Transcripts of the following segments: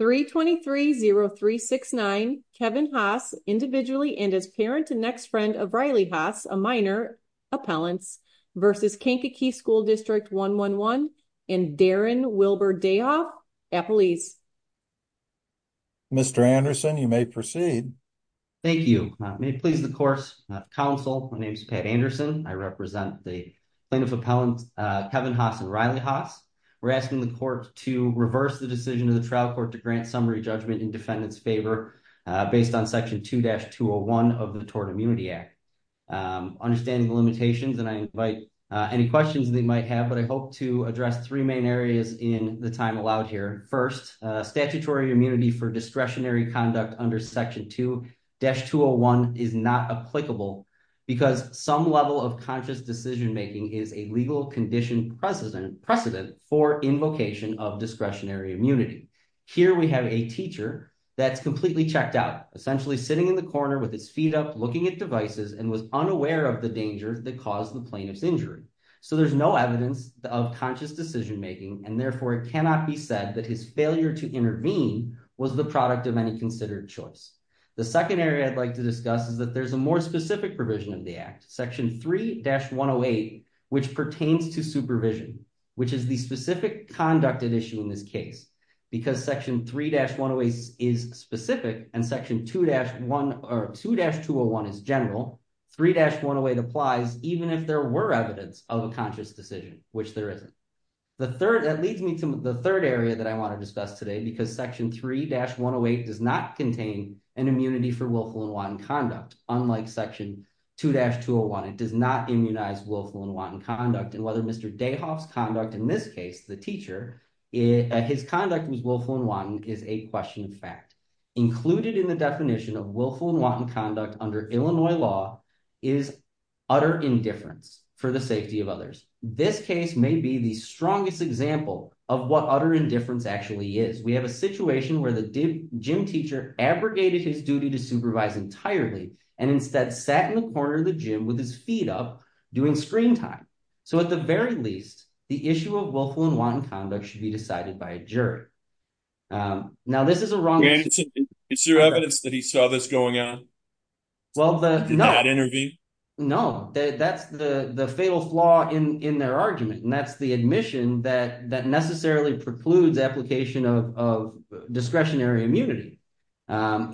3230369 Kevin Haas individually and as parent and next friend of Riley Haas, a minor, Appellants v. Kankakee School District 111 and Darren Wilbur Dayoff, Appellees. Mr. Anderson, you may proceed. Thank you. May it please the Court's Council, my name is Pat Anderson. I represent the plaintiff appellants Kevin Haas and Riley Haas. We're asking the Court to reverse the decision of the trial court to grant summary judgment in defendant's favor based on section 2-201 of the Tort Immunity Act. Understanding the limitations and I invite any questions that you might have, but I hope to address three main areas in the time allowed here. First, statutory immunity for discretionary conduct under section 2-201 is not applicable because some level of conscious decision making is a legal condition precedent for invocation of discretionary immunity. Here we have a teacher that's completely checked out, essentially sitting in the corner with his feet up looking at devices and was unaware of the danger that caused the plaintiff's injury. So there's no evidence of conscious decision making and therefore it cannot be said that his failure to intervene was the product of any considered choice. The second area I'd like to discuss is that there's a more specific section 3-108 which pertains to supervision which is the specific conducted issue in this case because section 3-108 is specific and section 2-201 is general. 3-108 applies even if there were evidence of a conscious decision which there isn't. That leads me to the third area that I want to discuss today because section 3-108 does not contain an immunity for willful and wanton conduct unlike section 2-201. It does not immunize willful and wanton conduct and whether Mr. Dayhoff's conduct in this case, the teacher, his conduct was willful and wanton is a question of fact. Included in the definition of willful and wanton conduct under Illinois law is utter indifference for the safety of others. This case may be the strongest example of what utter indifference actually is. We have a situation where the gym teacher abrogated his duty to supervise entirely and instead sat in the corner of the gym with his feet up doing screen time. So at the very least the issue of willful and wanton conduct should be decided by a jury. Now this is a wrong... Is there evidence that he saw this going on in that interview? No, that's the fatal flaw in their argument and that's the admission that necessarily precludes application of discretionary immunity.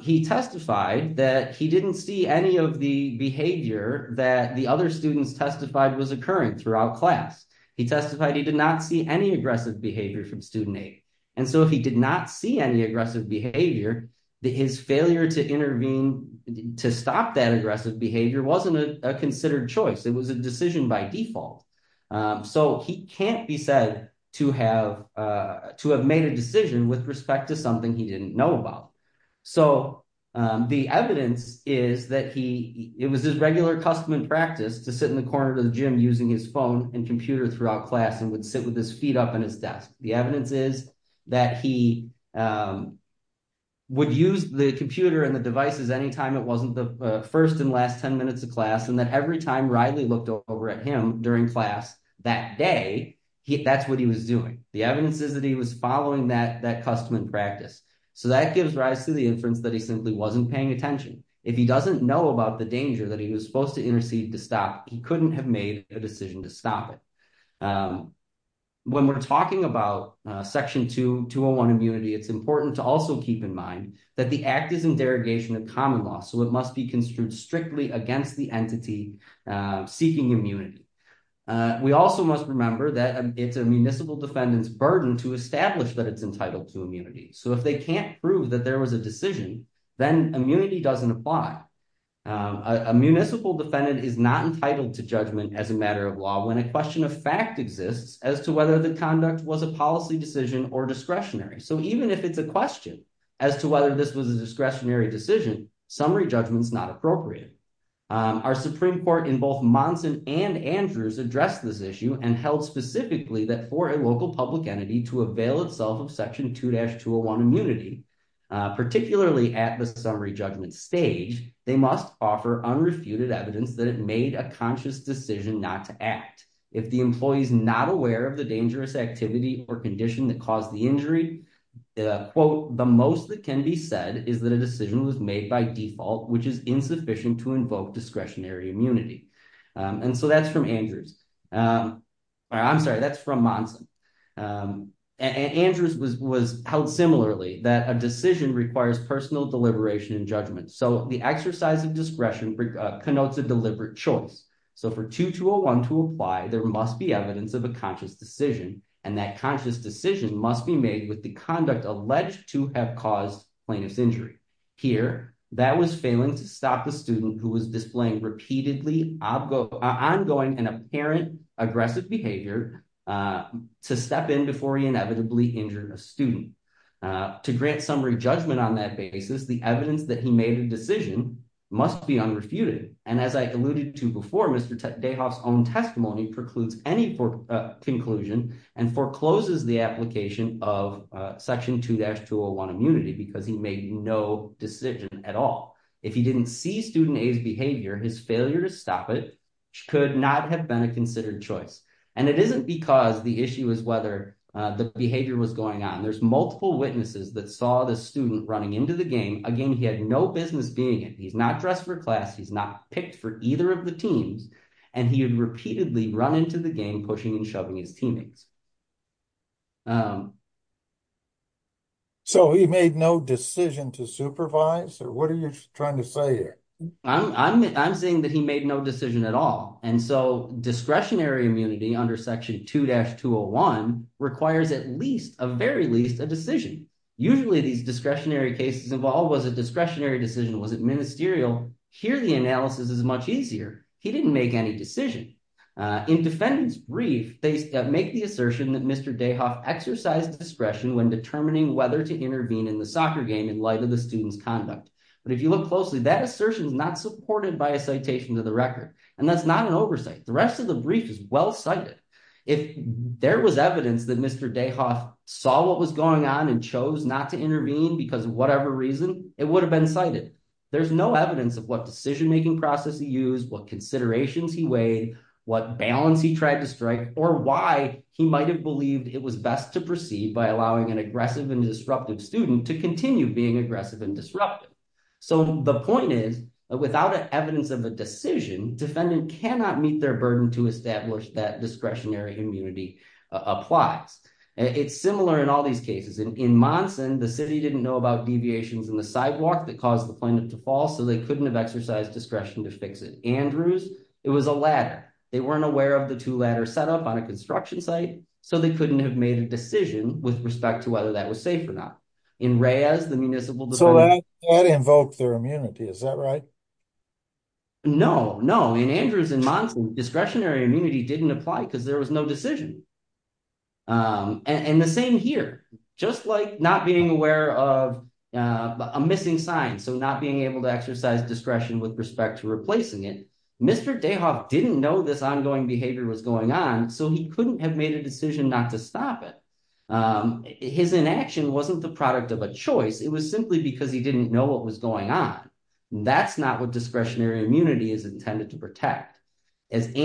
He testified that he didn't see any of the behavior that the other students testified was occurring throughout class. He testified he did not see any aggressive behavior from student eight and so he did not see any aggressive behavior. His failure to intervene to stop that aggressive behavior wasn't a considered choice. It was a decision by default. So he can't be said to have made a decision with respect to something he didn't know about. So the evidence is that he... It was his regular custom and practice to sit in the corner of the gym using his phone and computer throughout class and would sit with his feet up in his desk. The evidence is that he would use the computer and the devices anytime it wasn't the first and over at him during class that day. That's what he was doing. The evidence is that he was following that custom and practice. So that gives rise to the inference that he simply wasn't paying attention. If he doesn't know about the danger that he was supposed to intercede to stop, he couldn't have made a decision to stop it. When we're talking about Section 201 immunity, it's important to also keep in mind that the act is in derogation of common law. So it must be strictly against the entity seeking immunity. We also must remember that it's a municipal defendant's burden to establish that it's entitled to immunity. So if they can't prove that there was a decision, then immunity doesn't apply. A municipal defendant is not entitled to judgment as a matter of law when a question of fact exists as to whether the conduct was a policy decision or discretionary. So even if it's a question as to whether this was a discretionary decision, summary judgment is not appropriate. Our Supreme Court in both Monson and Andrews addressed this issue and held specifically that for a local public entity to avail itself of Section 2-201 immunity, particularly at the summary judgment stage, they must offer unrefuted evidence that it made a conscious decision not to act. If the employee is not aware of the dangerous activity or condition that caused the injury, quote, the most that can be said is that a decision was made by default, which is insufficient to invoke discretionary immunity. And so that's from Andrews. I'm sorry, that's from Monson. Andrews held similarly that a decision requires personal deliberation and judgment. So the exercise of discretion connotes a deliberate choice. So for 2-201 to apply, there must be evidence of a conscious decision and that conscious decision must be made with the conduct alleged to have caused plaintiff's injury. Here, that was failing to stop the student who was displaying repeatedly ongoing and apparent aggressive behavior to step in before he inevitably injured a student. To grant summary judgment on that basis, the evidence that he made a decision must be unrefuted. And as I alluded to before, Mr. Dayhoff's own testimony precludes any conclusion and forecloses the application of Section 2-201 immunity because he made no decision at all. If he didn't see student A's behavior, his failure to stop it could not have been a considered choice. And it isn't because the issue is whether the behavior was going on. There's multiple witnesses that saw the student running into the game, a game he had no business being in. He's not dressed for class, he's not picked for either of the teams, and he had repeatedly run into the game pushing and shoving his teammates. So he made no decision to supervise or what are you trying to say here? I'm saying that he made no decision at all. And so discretionary immunity under Section 2-201 requires at least, at very least, a decision. Usually these discretionary cases involve was a discretionary decision, was it ministerial? Here the analysis is much easier. He didn't make any decision. In defendant's brief, they make the assertion that Mr. Dayhoff exercised discretion when determining whether to intervene in the soccer game in light of the student's conduct. But if you look closely, that assertion is not supported by a citation to the record. And that's not an oversight. The rest of the brief is well cited. If there was evidence that Mr. Dayhoff saw what was going on and chose not to intervene because of whatever reason, it would have been cited. There's no evidence of what decision-making process he used, what considerations he weighed, what balance he tried to strike, or why he might have believed it was best to proceed by allowing an aggressive and disruptive student to continue being aggressive and disruptive. So the point is, without evidence of a decision, defendant cannot meet their burden to establish that discretionary immunity applies. It's similar in all these cases. In Monson, the city didn't know about deviations in the sidewalk that caused the plaintiff to fall, so they couldn't have exercised discretion to fix it. Andrews, it was a ladder. They weren't aware of the two ladder set up on a construction site, so they couldn't have made a decision with respect to whether that was safe or not. In Reyes, the municipal- So that invoked their immunity, is that right? No, no. In Andrews and Monson, discretionary immunity didn't apply because there was no decision. And the same here. Just like not being aware of a missing sign, so not being able to exercise discretion with respect to replacing it, Mr. Dayhoff didn't know this ongoing behavior was going on, so he couldn't have made a decision not to stop it. His inaction wasn't the product of a choice. It was simply because he didn't know what was going on. That's not what discretionary immunity is intended to protect. As the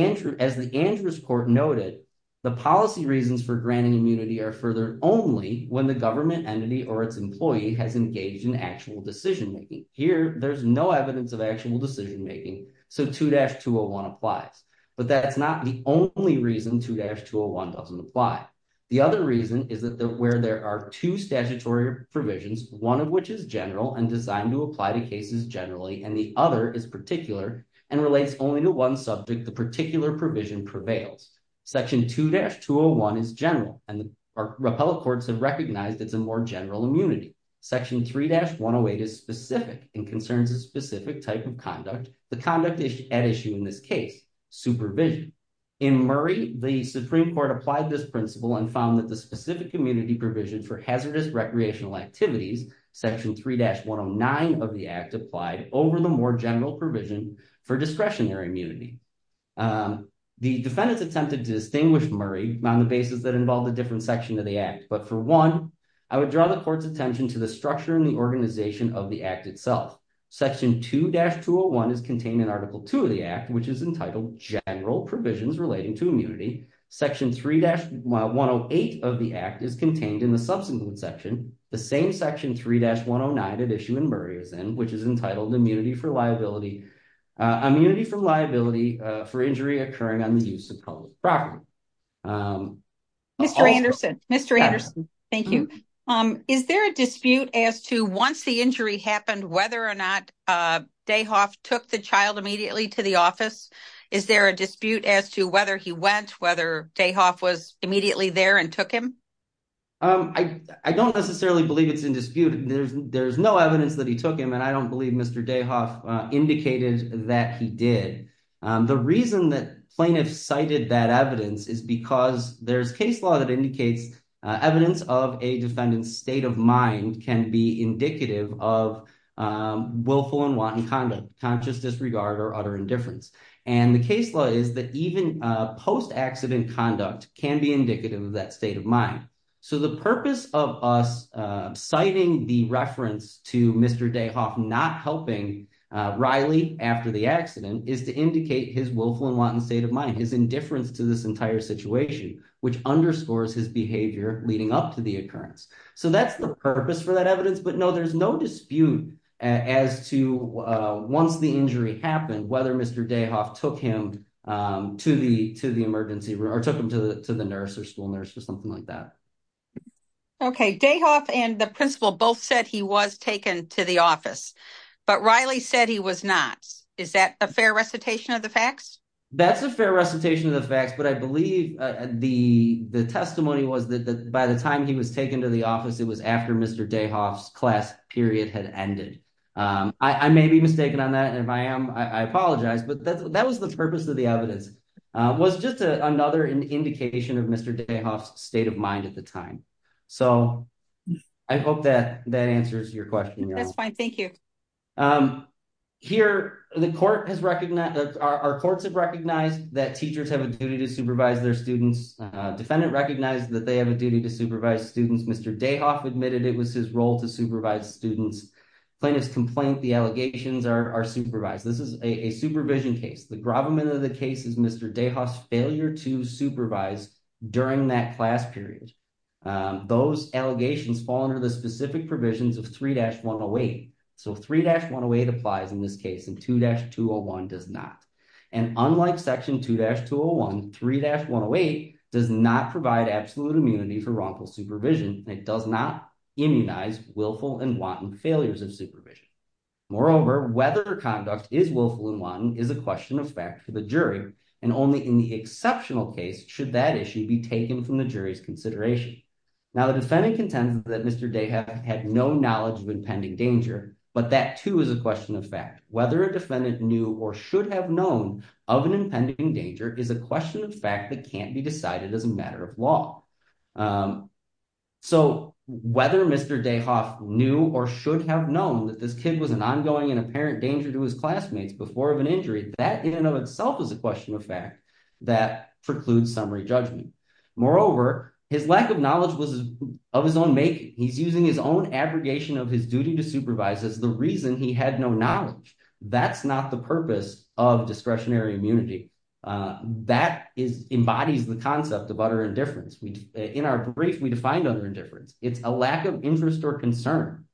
Andrews court noted, the policy reasons for granting immunity are furthered only when the government entity or its employee has engaged in actual decision-making. Here, there's no evidence of actual decision-making, so 2-201 applies. But that's not the only reason 2-201 doesn't apply. The other reason is that where there are two statutory provisions, one of which is general and designed to apply to cases generally, and the other is particular and relates only to one subject, the particular provision prevails. Section 2-201 is general, and the repellent courts have recognized it's a more general immunity. Section 3-108 is specific and concerns a specific type of conduct, the conduct at issue in this case, supervision. In Murray, the Supreme Court applied this principle and found that the specific immunity provision for hazardous recreational activities, Section 3-109 of the Act applied over the more general provision for discretionary immunity. The defendants attempted to distinguish Murray on the basis that involved a different section of the Act, but for one, I would draw the court's attention to the structure and the organization of the Act itself. Section 2-201 is contained in Article 2 of the Act, which is entitled General Provisions Relating to Immunity. Section 3-108 of the Act is contained in the subsequent section, the same Section 3-109 at issue in Murray is in, which is entitled Immunity from Liability for Injury Occurring on the Use of Public Property. Mr. Anderson, thank you. Is there a dispute as to once the injury happened, whether or not Dayhoff took the child immediately to the office? Is there a dispute as to whether he went, whether Dayhoff was immediately there and took him? I don't necessarily believe it's in dispute. There's no evidence that he took him and I don't believe Mr. Dayhoff indicated that he did. The reason that plaintiffs cited that evidence is because there's case law that indicates evidence of a defendant's state of mind can be indicative of willful and wanton conduct, conscious disregard or utter indifference. And the case law is that even post-accident conduct can be indicative of that state of mind. So the purpose of us citing the reference to Mr. Dayhoff not helping Riley after the accident is to indicate his willful and wanton state of mind, his indifference to this entire situation, which underscores his behavior leading up to the occurrence. So that's the purpose for that evidence. But no, there's no dispute as to once the injury happened, whether Mr. Dayhoff took him to the emergency room or took him to the nurse or school nurse or something like that. Okay. Dayhoff and the principal both said he was taken to the office, but Riley said he was not. Is that a fair recitation of the facts? That's a fair recitation of the facts, but I believe the testimony was that by the time he was taken to the office, it was after Mr. Dayhoff's class period had ended. I may be mistaken on that. And if I am, I apologize, but that was the purpose of the evidence was just another indication of Mr. Dayhoff's state of mind at the time. So I hope that that answers your question. That's fine. Here, the court has recognized that our courts have recognized that teachers have a duty to supervise their students. Defendant recognized that they have a duty to supervise students. Mr. Dayhoff admitted it was his role to supervise students. Plaintiff's complaint, the allegations are supervised. This is a supervision case. The gravamen of the case is Mr. Dayhoff's failure to supervise during that class period. Those allegations fall under the specific provisions of 3-108. So 3-108 applies in this case and 2-201 does not. And unlike section 2-201, 3-108 does not provide absolute immunity for wrongful supervision. It does not immunize willful and wanton failures of supervision. Moreover, whether conduct is willful and wanton is a question of fact for the jury. And only in the exceptional case should that issue be taken from the jury's consideration. Now the defendant contends that Mr. Dayhoff had no knowledge of impending danger, but that too is a question of fact. Whether a defendant knew or should have known of an impending danger is a question of fact that can't be decided as a matter of law. So whether Mr. Dayhoff knew or should have known that this kid was an ongoing and apparent danger to his classmates before of an injury, that in and of itself is a question of fact that precludes summary judgment. Moreover, his lack of knowledge was of his own making. He's using his own abrogation of his duty to supervise as the reason he had no knowledge. That's not the purpose of discretionary immunity. That embodies the concept of utter indifference. In our brief, we defined utter indifference. It's a lack of interest or concern.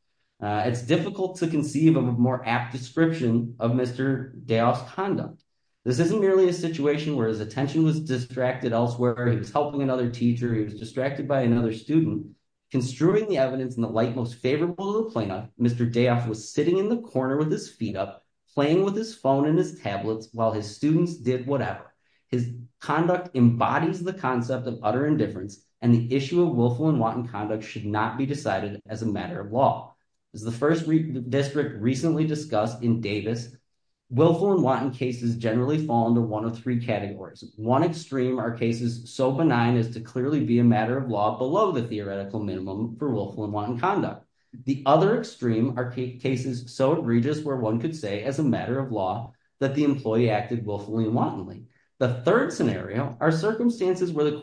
It's difficult to conceive of a more apt description of Mr. Dayhoff's conduct. This isn't merely a situation where his attention was distracted elsewhere. He was helping another teacher. He was distracted by another student. Construing the evidence in the light most favorable to the plaintiff, Mr. Dayhoff was sitting in the corner with his feet up, playing with his phone and his tablets while his students did whatever. His conduct embodies the concept of utter indifference and the issue of willful and wanton conduct should not be decided as a matter of law. As the first district recently discussed in Davis, willful and wanton cases generally fall into one of three categories. One extreme are cases so benign as to clearly be a matter of law below the theoretical minimum for willful and wanton conduct. The other extreme are cases so egregious where one could say as a matter of law that the employee acted willfully and wantonly. The third scenario are circumstances where the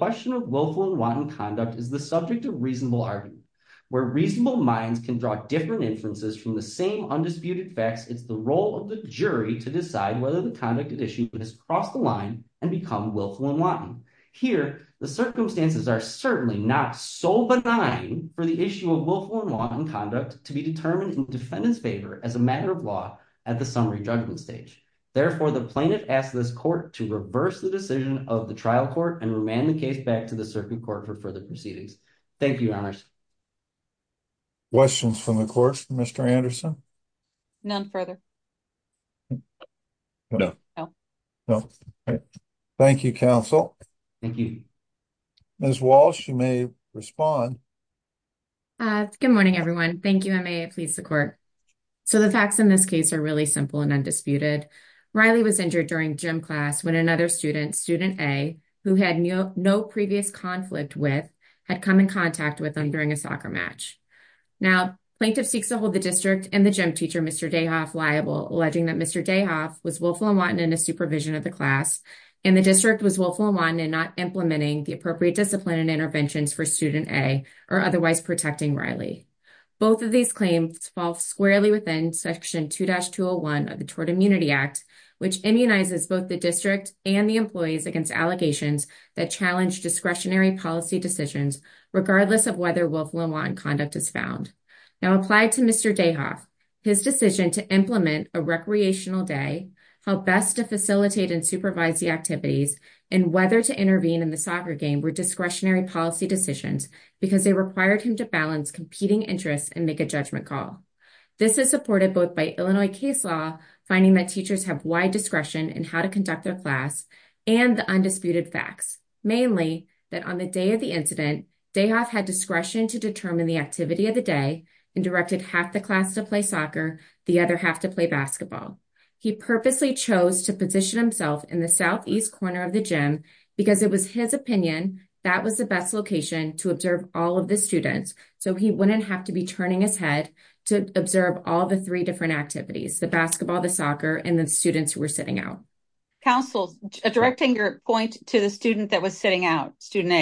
where reasonable minds can draw different inferences from the same undisputed facts, it's the role of the jury to decide whether the conduct at issue has crossed the line and become willful and wanton. Here, the circumstances are certainly not so benign for the issue of willful and wanton conduct to be determined in defendant's favor as a matter of law at the summary judgment stage. Therefore, the plaintiff asks this court to reverse the decision of the trial court and the case back to the circuit court for further proceedings. Thank you, your honors. Questions from the court for Mr. Anderson? None further. Thank you, counsel. Thank you. Ms. Walsh, you may respond. Good morning, everyone. Thank you. I may please the court. So the facts in this case are really simple and undisputed. Riley was injured during gym class when another student, student A, who had no previous conflict with, had come in contact with him during a soccer match. Now, plaintiff seeks to hold the district and the gym teacher, Mr. Dayhoff, liable, alleging that Mr. Dayhoff was willful and wanton in the supervision of the class, and the district was willful and wanton in not implementing the appropriate discipline and interventions for student A or otherwise protecting Riley. Both of these claims fall squarely within section 2-201 of the Tort Immunity Act, which immunizes both the district and the challenge discretionary policy decisions, regardless of whether willful and wanton conduct is found. Now, applied to Mr. Dayhoff, his decision to implement a recreational day, how best to facilitate and supervise the activities, and whether to intervene in the soccer game were discretionary policy decisions because they required him to balance competing interests and make a judgment call. This is supported both by Illinois case law, finding that teachers have wide discretion in how to conduct their class, and the undisputed facts, mainly that on the day of the incident, Dayhoff had discretion to determine the activity of the day and directed half the class to play soccer, the other half to play basketball. He purposely chose to position himself in the southeast corner of the gym because it was his opinion that was the best location to observe all of the students, so he wouldn't have to be turning his head to observe all the three different activities, the basketball, the soccer, and the students who were sitting out. Counsel, directing your point to the student that was sitting out, student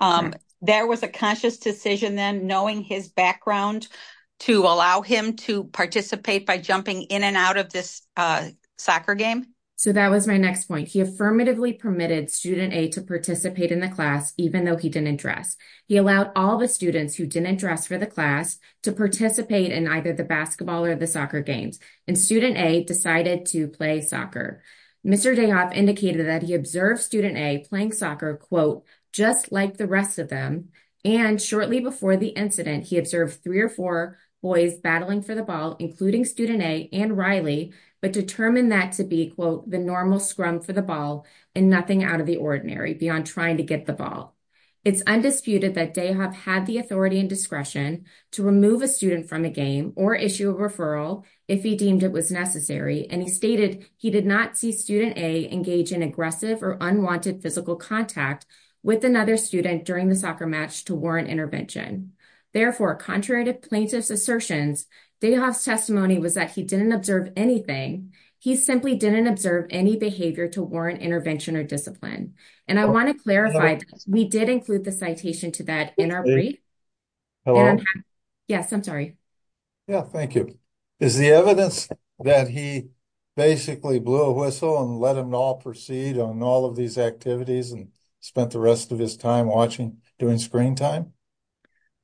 A, there was a conscious decision then knowing his background to allow him to participate by jumping in and out of this soccer game? So that was my next point. He affirmatively permitted student A to participate in the class, even though he didn't dress. He allowed all the students who didn't dress for the class to participate in either the basketball or the soccer games, and student A decided to play soccer. Mr. Dayhoff indicated that he observed student A playing soccer, quote, just like the rest of them, and shortly before the incident, he observed three or four boys battling for the ball, including student A and Riley, but determined that to be, quote, the normal scrum for the ball and nothing out of the ordinary beyond trying to get the ball. It's undisputed that Dayhoff had the authority and discretion to remove a student from a game or issue a referral if he deemed it was necessary, and he stated he did not see student A engage in aggressive or unwanted physical contact with another student during the soccer match to warrant intervention. Therefore, contrary to plaintiff's assertions, Dayhoff's testimony was that he didn't observe anything. He simply didn't observe any behavior to warrant intervention or I want to clarify, we did include the citation to that in our brief. Yes, I'm sorry. Yeah, thank you. Is the evidence that he basically blew a whistle and let him all proceed on all of these activities and spent the rest of his time watching during screen time?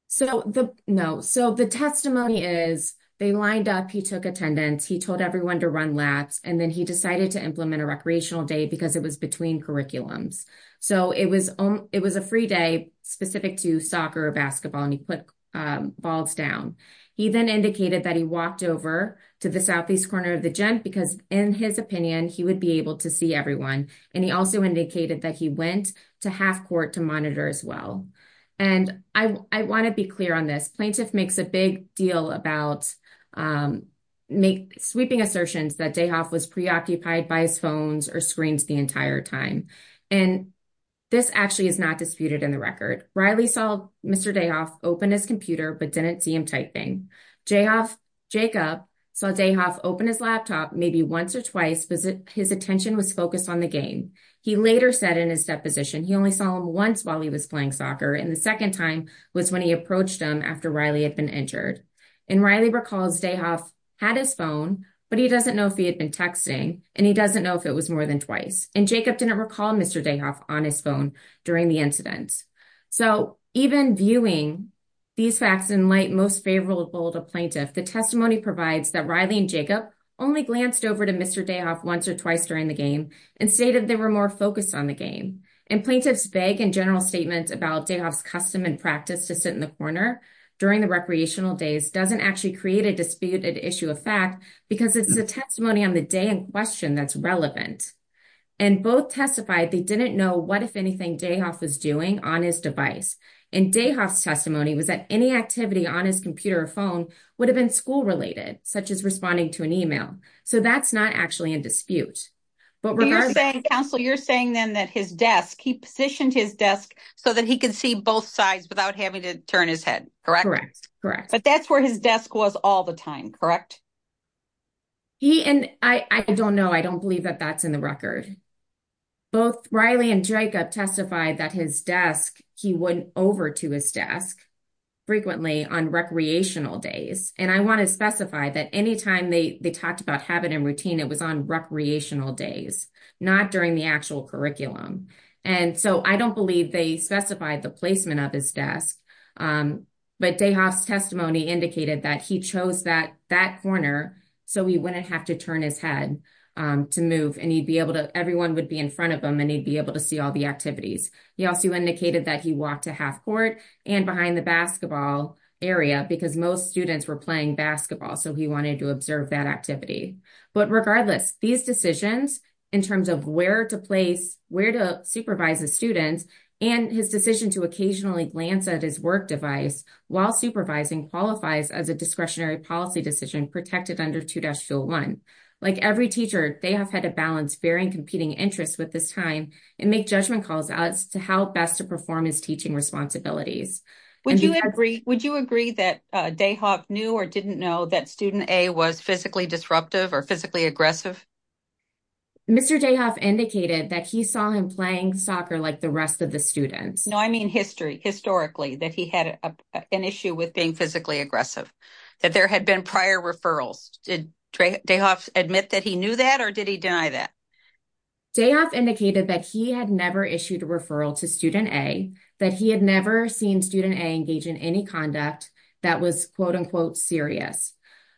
So, no. So, the testimony is they lined up, he took attendance, he told everyone to run laps, and then he decided to implement a recreational day because it was between curriculums. So, it was a free day specific to soccer or basketball, and he put balls down. He then indicated that he walked over to the southeast corner of the gym because, in his opinion, he would be able to see everyone. And he also indicated that he went to half court to monitor as well. And I want to be clear on this. Plaintiff makes a big deal about sweeping assertions that DeHoff was preoccupied by his phones or screens the entire time. And this actually is not disputed in the record. Riley saw Mr. DeHoff open his computer but didn't see him typing. Jacob saw DeHoff open his laptop maybe once or twice because his attention was focused on the game. He later said in his deposition he only saw him once while he was playing soccer, and the second time was when he approached him after Riley had been injured. And Riley recalls DeHoff had his phone, but he doesn't know if he had been texting, and he doesn't know if it was more than twice. And Jacob didn't recall Mr. DeHoff on his phone during the incident. So, even viewing these facts in light most favorable to plaintiff, the testimony provides that Riley and Jacob only glanced over to Mr. DeHoff once or twice during the game and stated they were more focused on the game. And plaintiff's vague and general statement about DeHoff's custom and practice to sit in the corner during the recreational days doesn't actually create a disputed issue of fact because it's a testimony on the day in question that's relevant. And both testified they didn't know what, if anything, DeHoff was doing on his device. And DeHoff's testimony was that any activity on his computer or phone would have been school-related, such as responding to an email. So, that's not actually a dispute. But regardless... Counsel, you're saying then that his desk, he positioned his desk so that he could see both sides without having to turn his head, correct? Correct. But that's where his desk was all the time, correct? He and... I don't know. I don't believe that that's in the record. Both Riley and Jacob testified that his desk, he went over to his desk frequently on recreational days. And I want to specify that anytime they talked about habit and routine, it was on recreational days, not during the actual curriculum. And so, I don't believe they specified the desk. But DeHoff's testimony indicated that he chose that corner so he wouldn't have to turn his head to move and he'd be able to... Everyone would be in front of him and he'd be able to see all the activities. He also indicated that he walked to half court and behind the basketball area because most students were playing basketball. So, he wanted to observe that activity. But regardless, these decisions in terms of where to place, where to supervise the students and his decision to occasionally glance at his work device while supervising qualifies as a discretionary policy decision protected under 2-01. Like every teacher, DeHoff had a balance bearing competing interests with this time and make judgment calls as to how best to perform his teaching responsibilities. Would you agree that DeHoff knew or didn't know that student A was physically disruptive or physically aggressive? Mr. DeHoff indicated that he saw him playing soccer like the rest of the students. No, I mean history, historically, that he had an issue with being physically aggressive, that there had been prior referrals. Did DeHoff admit that he knew that or did he deny that? DeHoff indicated that he had never issued a referral to student A, that he had never seen student A engage in any conduct that was, quote unquote, serious.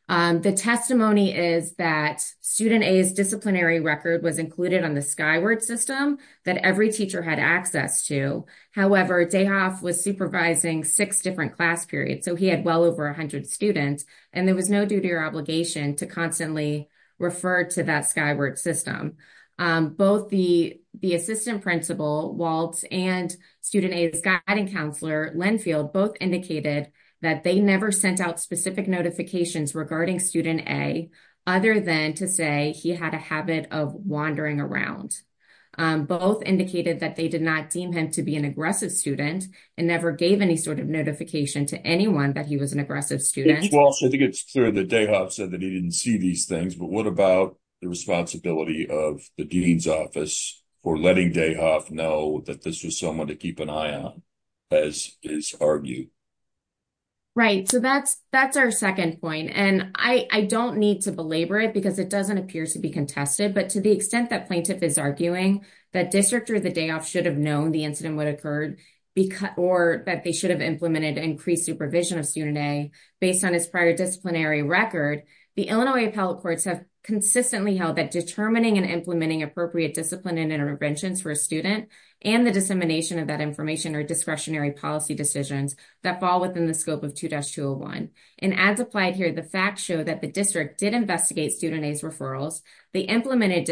The testimony is that student A's disciplinary record was included on the Skyward system that every teacher had access to. However, DeHoff was supervising six different class periods, so he had well over 100 students, and there was no duty or obligation to constantly refer to that Skyward system. Both the assistant principal, Walt, and student A's guiding counselor, Linfield, both indicated that they never sent out specific notifications regarding student A, other than to say he had a habit of wandering around. Both indicated that they did not deem him to be an aggressive student and never gave any sort of notification to anyone that he was an aggressive student. Well, I think it's clear that DeHoff said that he didn't see these things, but what about the responsibility of the dean's office for letting DeHoff know that this was someone to keep an eye on, as is argued? Right, so that's our second point, and I don't need to belabor it because it doesn't appear to be contested, but to the extent that plaintiff is arguing that District Judge DeHoff should have known the incident would occur, or that they should have implemented increased supervision of student A based on his prior disciplinary record, the Illinois appellate courts have consistently held that determining and implementing appropriate discipline and interventions for a student and the dissemination of that information or discretionary policy decisions that fall within the scope of 2-201, and as applied here, the facts show that the district did investigate student A's referrals, they implemented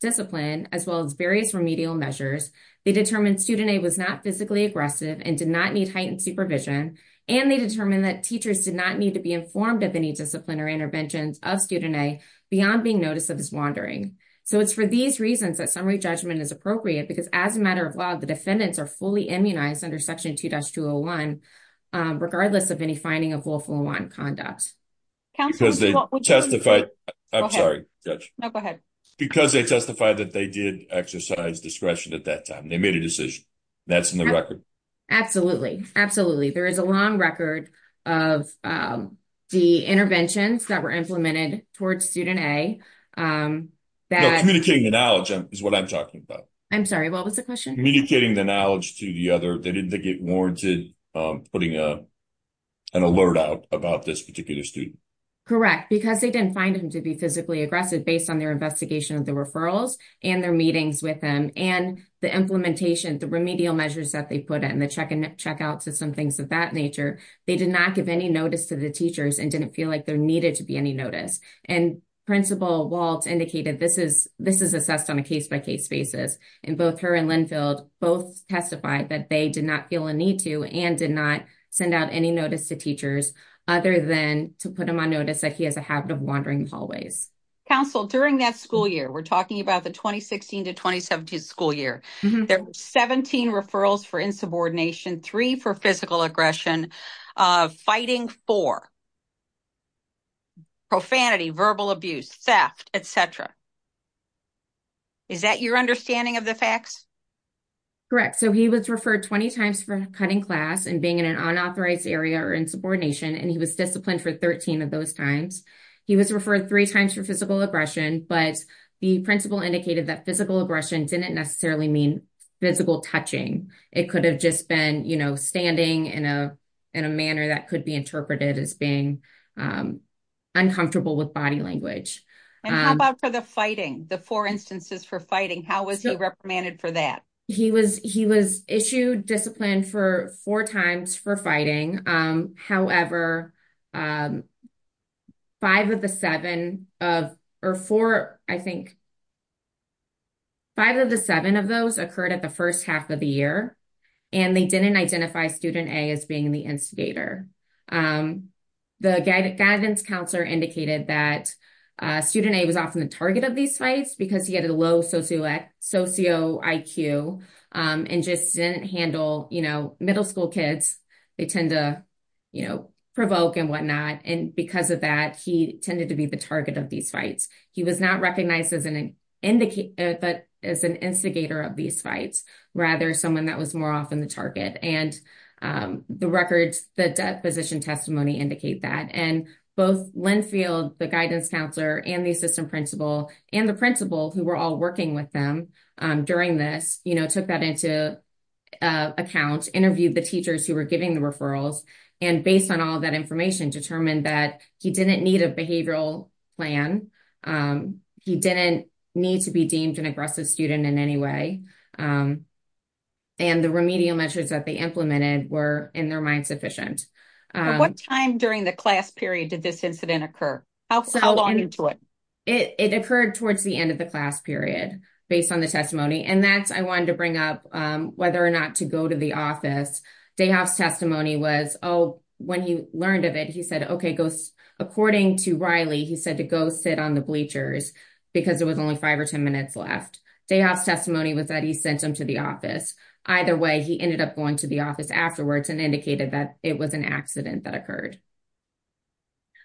discipline, as well as various remedial measures, they determined student A was not physically aggressive and did not need heightened supervision, and they determined that teachers did not need to be informed of any disciplinary interventions of student A beyond being noticed of his wandering. So it's for these reasons that summary judgment is appropriate, because as a matter of law, the defendants are fully immunized under Section 2-201, regardless of any finding of 2-201 conduct. Because they testified that they did exercise discretion at that time, they made a decision, that's in the record? Absolutely, absolutely, there is a long record of the interventions that were implemented towards student A. Communicating the knowledge is what I'm talking about. I'm sorry, what was the question? Communicating the knowledge to the other, they didn't get warranted putting an alert out about this particular student. Correct, because they didn't find him to be physically aggressive based on their investigation of the referrals and their meetings with them, and the implementation, the remedial measures that they put in, the check-in and check-out system, things of that nature, they did not give any notice to the teachers and didn't feel like there needed to be any notice. And Principal Waltz indicated this is assessed on a case-by-case basis, and both her and Linfield both testified that they did not feel a need to, and did not send out any notice to teachers other than to put him on notice that he has a habit of wandering hallways. Counsel, during that school year, we're talking about the 2016-2017 school year, there were 17 referrals for insubordination, three for physical aggression, fighting four, profanity, verbal abuse, theft, etc. Is that your understanding of the facts? Correct, so he was referred 20 times for cutting class and being in an unauthorized area or in subordination, and he was disciplined for 13 of those times. He was referred three times for physical touching. It could have just been standing in a manner that could be interpreted as being uncomfortable with body language. And how about for the fighting, the four instances for fighting, how was he reprimanded for that? He was issued discipline four times for fighting. However, five of the seven of those occurred at the first half of the year, and they didn't identify student A as being the instigator. The guidance counselor indicated that student A was often the target of these fights because he had a low socio IQ and just didn't handle middle school kids. They tend to provoke and whatnot, and because of that, he tended to be the target of these fights. He was not recognized as an instigator of these fights, rather someone that was more often the target. And the records, the deposition testimony indicate that. And both Linfield, the guidance counselor, and the assistant principal, and the principal, who were all working with them during this, took that into account, interviewed the teachers who were giving the referrals, and based on all that information, determined that he didn't need a behavioral plan. He didn't need to be deemed an aggressive student in any way. And the remedial measures that they implemented were, in their mind, sufficient. What time during the class period did this incident occur? How long into it? It occurred towards the end of the class period, based on the testimony. And that's, I wanted to bring up, whether or not to go to the office. Dayhoff's testimony was, oh, when he learned of it, he said, okay, according to Riley, he said to go sit on the bleachers because there was only five or ten minutes left. Dayhoff's testimony was that he sent him to the office. Either way, he ended up going to the office afterwards and indicated that it was an accident that occurred.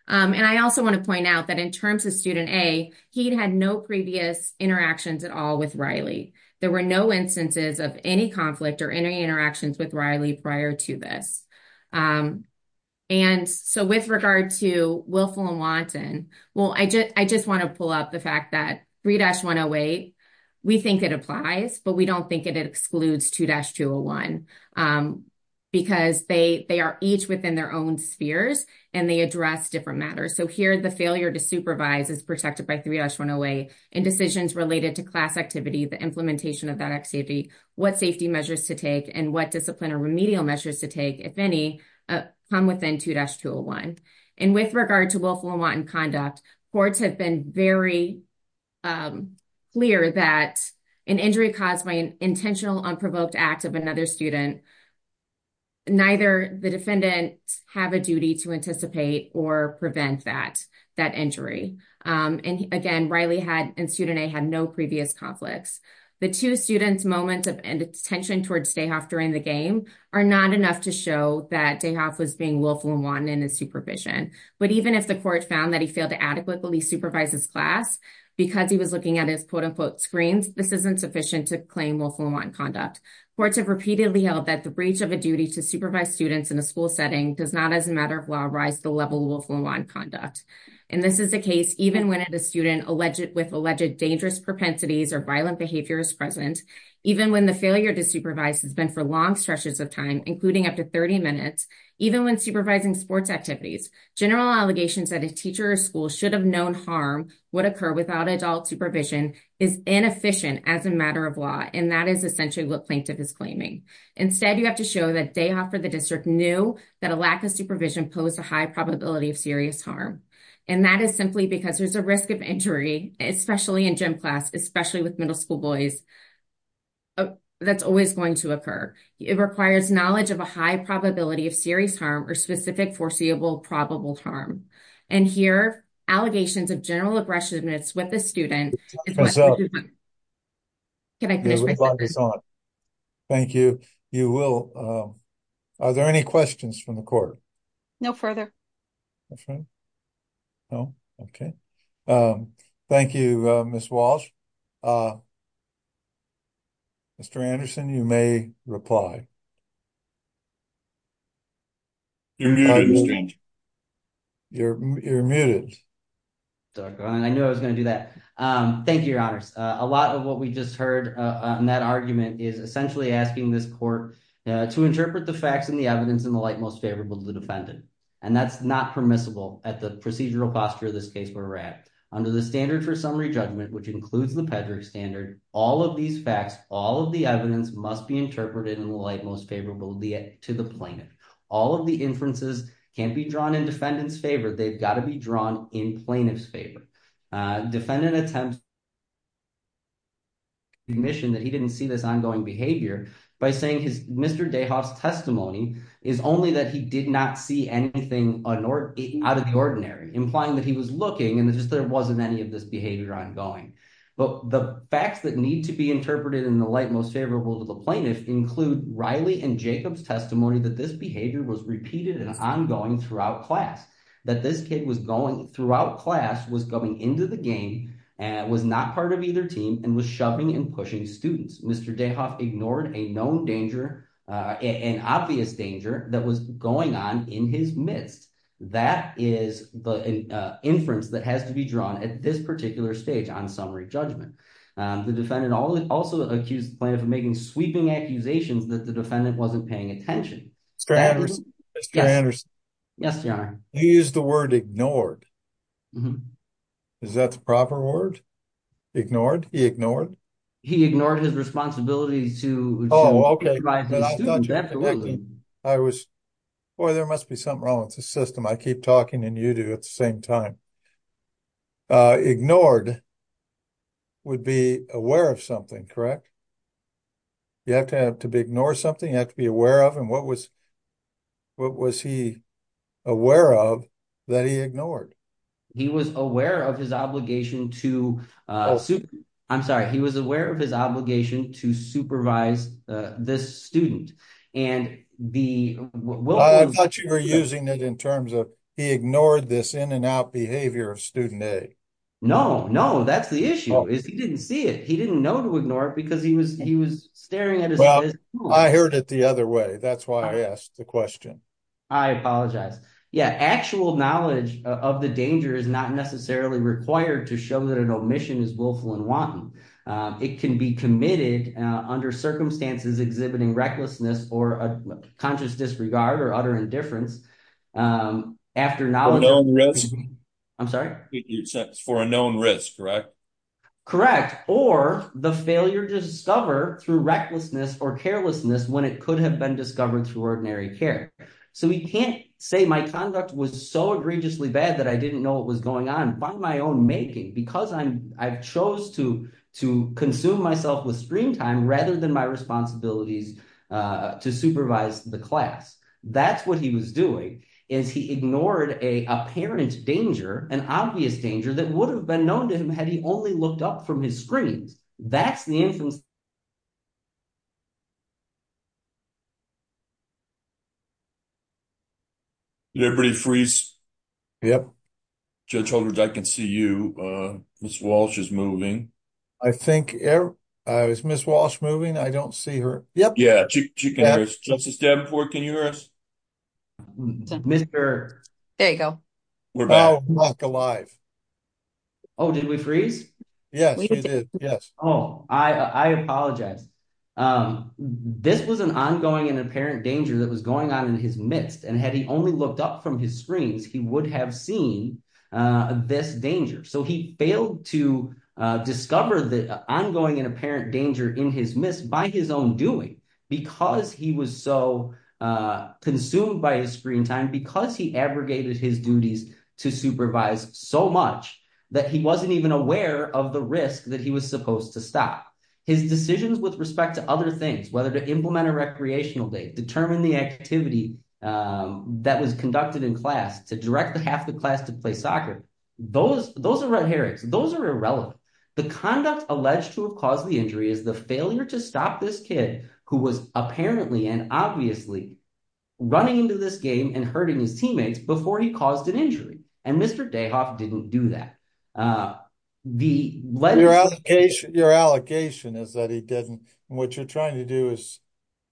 And I also want to point out that, in terms of student A, he had no previous interactions at all with Riley. There were no instances of any conflict or any interactions with Riley prior to this. And so, with regard to Willful and Wanton, well, I just want to pull up the fact that 3-108, we think it applies, but we don't think it excludes 2-201, because they are each within their own spheres, and they address different matters. So here, the failure to supervise is protected by 3-108, and decisions related to class activity, the implementation of that activity, what safety measures to take, and what discipline or remedial measures to take, if any, come within 2-201. And with regard to Willful and Wanton conduct, courts have been very clear that an injury caused by an intentional, unprovoked act of another student, neither the defendant have a duty to anticipate or prevent that injury. And again, Riley had, in student A, had no previous conflicts. The two students' moments of tension towards Dayhoff during the game are not enough to show that Dayhoff was being Willful and Wanton in his supervision. But even if the court found that he failed to adequately supervise his class, because he was looking at his, quote-unquote, screens, this isn't sufficient to claim Willful and Wanton conduct. Courts have repeatedly held that the breach of a duty to supervise students in a school setting does not, as a matter of law, rise the level of Willful and Wanton conduct. And this is the case even when a student with alleged dangerous propensities or violent behavior is present, even when the failure to supervise has been for long stretches of time, including up to 30 minutes, even when supervising sports activities. General allegations that a teacher or school should have known harm would occur without adult supervision is inefficient as a matter of law. And that is essentially what plaintiff is claiming. Instead, you have to show that Dayhoff for the district knew that a lack of supervision posed a high probability of serious harm. And that is simply because there's a risk of injury, especially in gym class, especially with middle school boys, that's always going to occur. It requires knowledge of a high probability of serious harm or specific foreseeable probable harm. And here, allegations of general aggressiveness with a student. Can I finish? Thank you. You will. Are there any questions from the court? No further. No. Okay. Thank you, Miss Walsh. Mr. Anderson, you may reply. You're muted. You're muted. I knew I was going to do that. Thank you, your honors. A lot of what we just heard in that argument is essentially asking this court to interpret the facts and the evidence in the light most favorable to the defendant. And that's not permissible at the procedural posture of this case where we're at. Under the standard for summary judgment, which includes the pedigree standard, all of these facts, all of the evidence must be interpreted in the light most favorable to the plaintiff. All of the inferences can't be drawn in defendant's favor. They've got to be drawn in plaintiff's favor. Defendant attempts to commission that he didn't see this ongoing behavior by saying his Mr. Dayhoff's testimony is only that he did not see anything out of the ordinary, implying that he was looking and there just wasn't any of this behavior ongoing. But the facts that need to be interpreted in the light most favorable to the plaintiff include Riley and Jacob's testimony that this behavior was repeated and ongoing throughout class, that this kid was going throughout class, was going into the game, and was not part of either team and was shoving and pushing students. Mr. Dayhoff ignored a known danger, an obvious danger that was going on in his midst. That is the inference that has to be drawn at this particular stage on summary judgment. The defendant also accused the plaintiff of making sweeping accusations that the defendant wasn't paying attention. Mr. Anderson? Yes, your honor. You used the word ignored. Is that the proper word? Ignored? He ignored? He ignored his responsibilities to provide his students. Oh, okay. Boy, there must be something wrong with the system. I keep talking and you do at the same time. Ignored would be aware of something, correct? You have to have to ignore something, you have to be aware of, and what was what was he aware of that he ignored? He was aware of his obligation to... I'm sorry, he was aware of his obligation to supervise this student, and the... I thought you were using it in terms of he ignored this in and out behavior of student A. No, no, that's the issue is he didn't see it. He didn't know to ignore it because he was he was staring at his... I heard it the other way, that's why I asked the question. I apologize. Yeah, actual knowledge of the danger is not necessarily required to show that an omission is willful and wanton. It can be committed under circumstances exhibiting recklessness or a conscious disregard or utter indifference after knowledge... I'm sorry? For a known risk, correct? Correct, or the failure to discover through recklessness or carelessness when it could have been discovered through ordinary care. So we can't say my conduct was so egregiously bad that I didn't know what was going on by my own making because I chose to consume myself with screen time rather than my responsibilities to supervise the class. That's what he was doing, is he ignored a apparent danger, an obvious danger that would have been known to him had he only looked up from his screens. That's the inference... Did everybody freeze? Yep. Judge Holdridge, I can see you. Ms. Walsh is moving. I think... Is Ms. Walsh moving? I don't see her. Yep. Yeah, she can hear us. Justice Davenport, can you hear us? Mr... There you go. We're back. Oh, we're back alive. Oh, did we freeze? Yes, we did. Yes. Oh, I apologize. This was an ongoing and apparent danger that was going on in his midst and had he only looked up from his screens, he would have seen this danger. So he failed to discover the ongoing and apparent danger in his midst by his own doing, because he was so consumed by his screen time, because he abrogated his duties to supervise so much that he wasn't even aware of the risk that he was supposed to stop. His decisions with respect to other things, whether to implement a recreational day, determine the activity that was conducted in class, to direct the half the class to play soccer, those are red herrings. Those are irrelevant. The conduct alleged to have caused the injury is the failure to stop this kid who was apparently and obviously running into this game and hurting his teammates before he caused an injury. And Mr. Dayhoff didn't do that. Your allegation is that he didn't. What you're trying to do is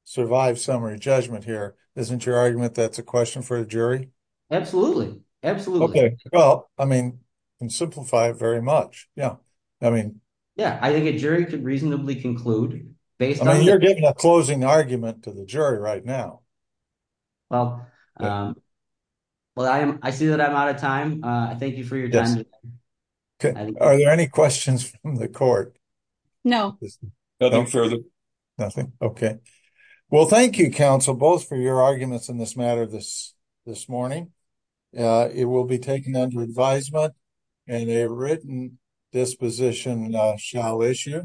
survive summary judgment here. Isn't your argument that's for a jury? Absolutely. Absolutely. Well, I mean, and simplify very much. Yeah. I mean, yeah, I think a jury could reasonably conclude based on you're getting a closing argument to the jury right now. Well, well, I am I see that I'm out of time. Thank you for your time. Are there any questions from the court? No, nothing further. Nothing. Okay. Well, thank you, counsel, both for your arguments in this matter this morning. It will be taken under advisement and a written disposition shall issue.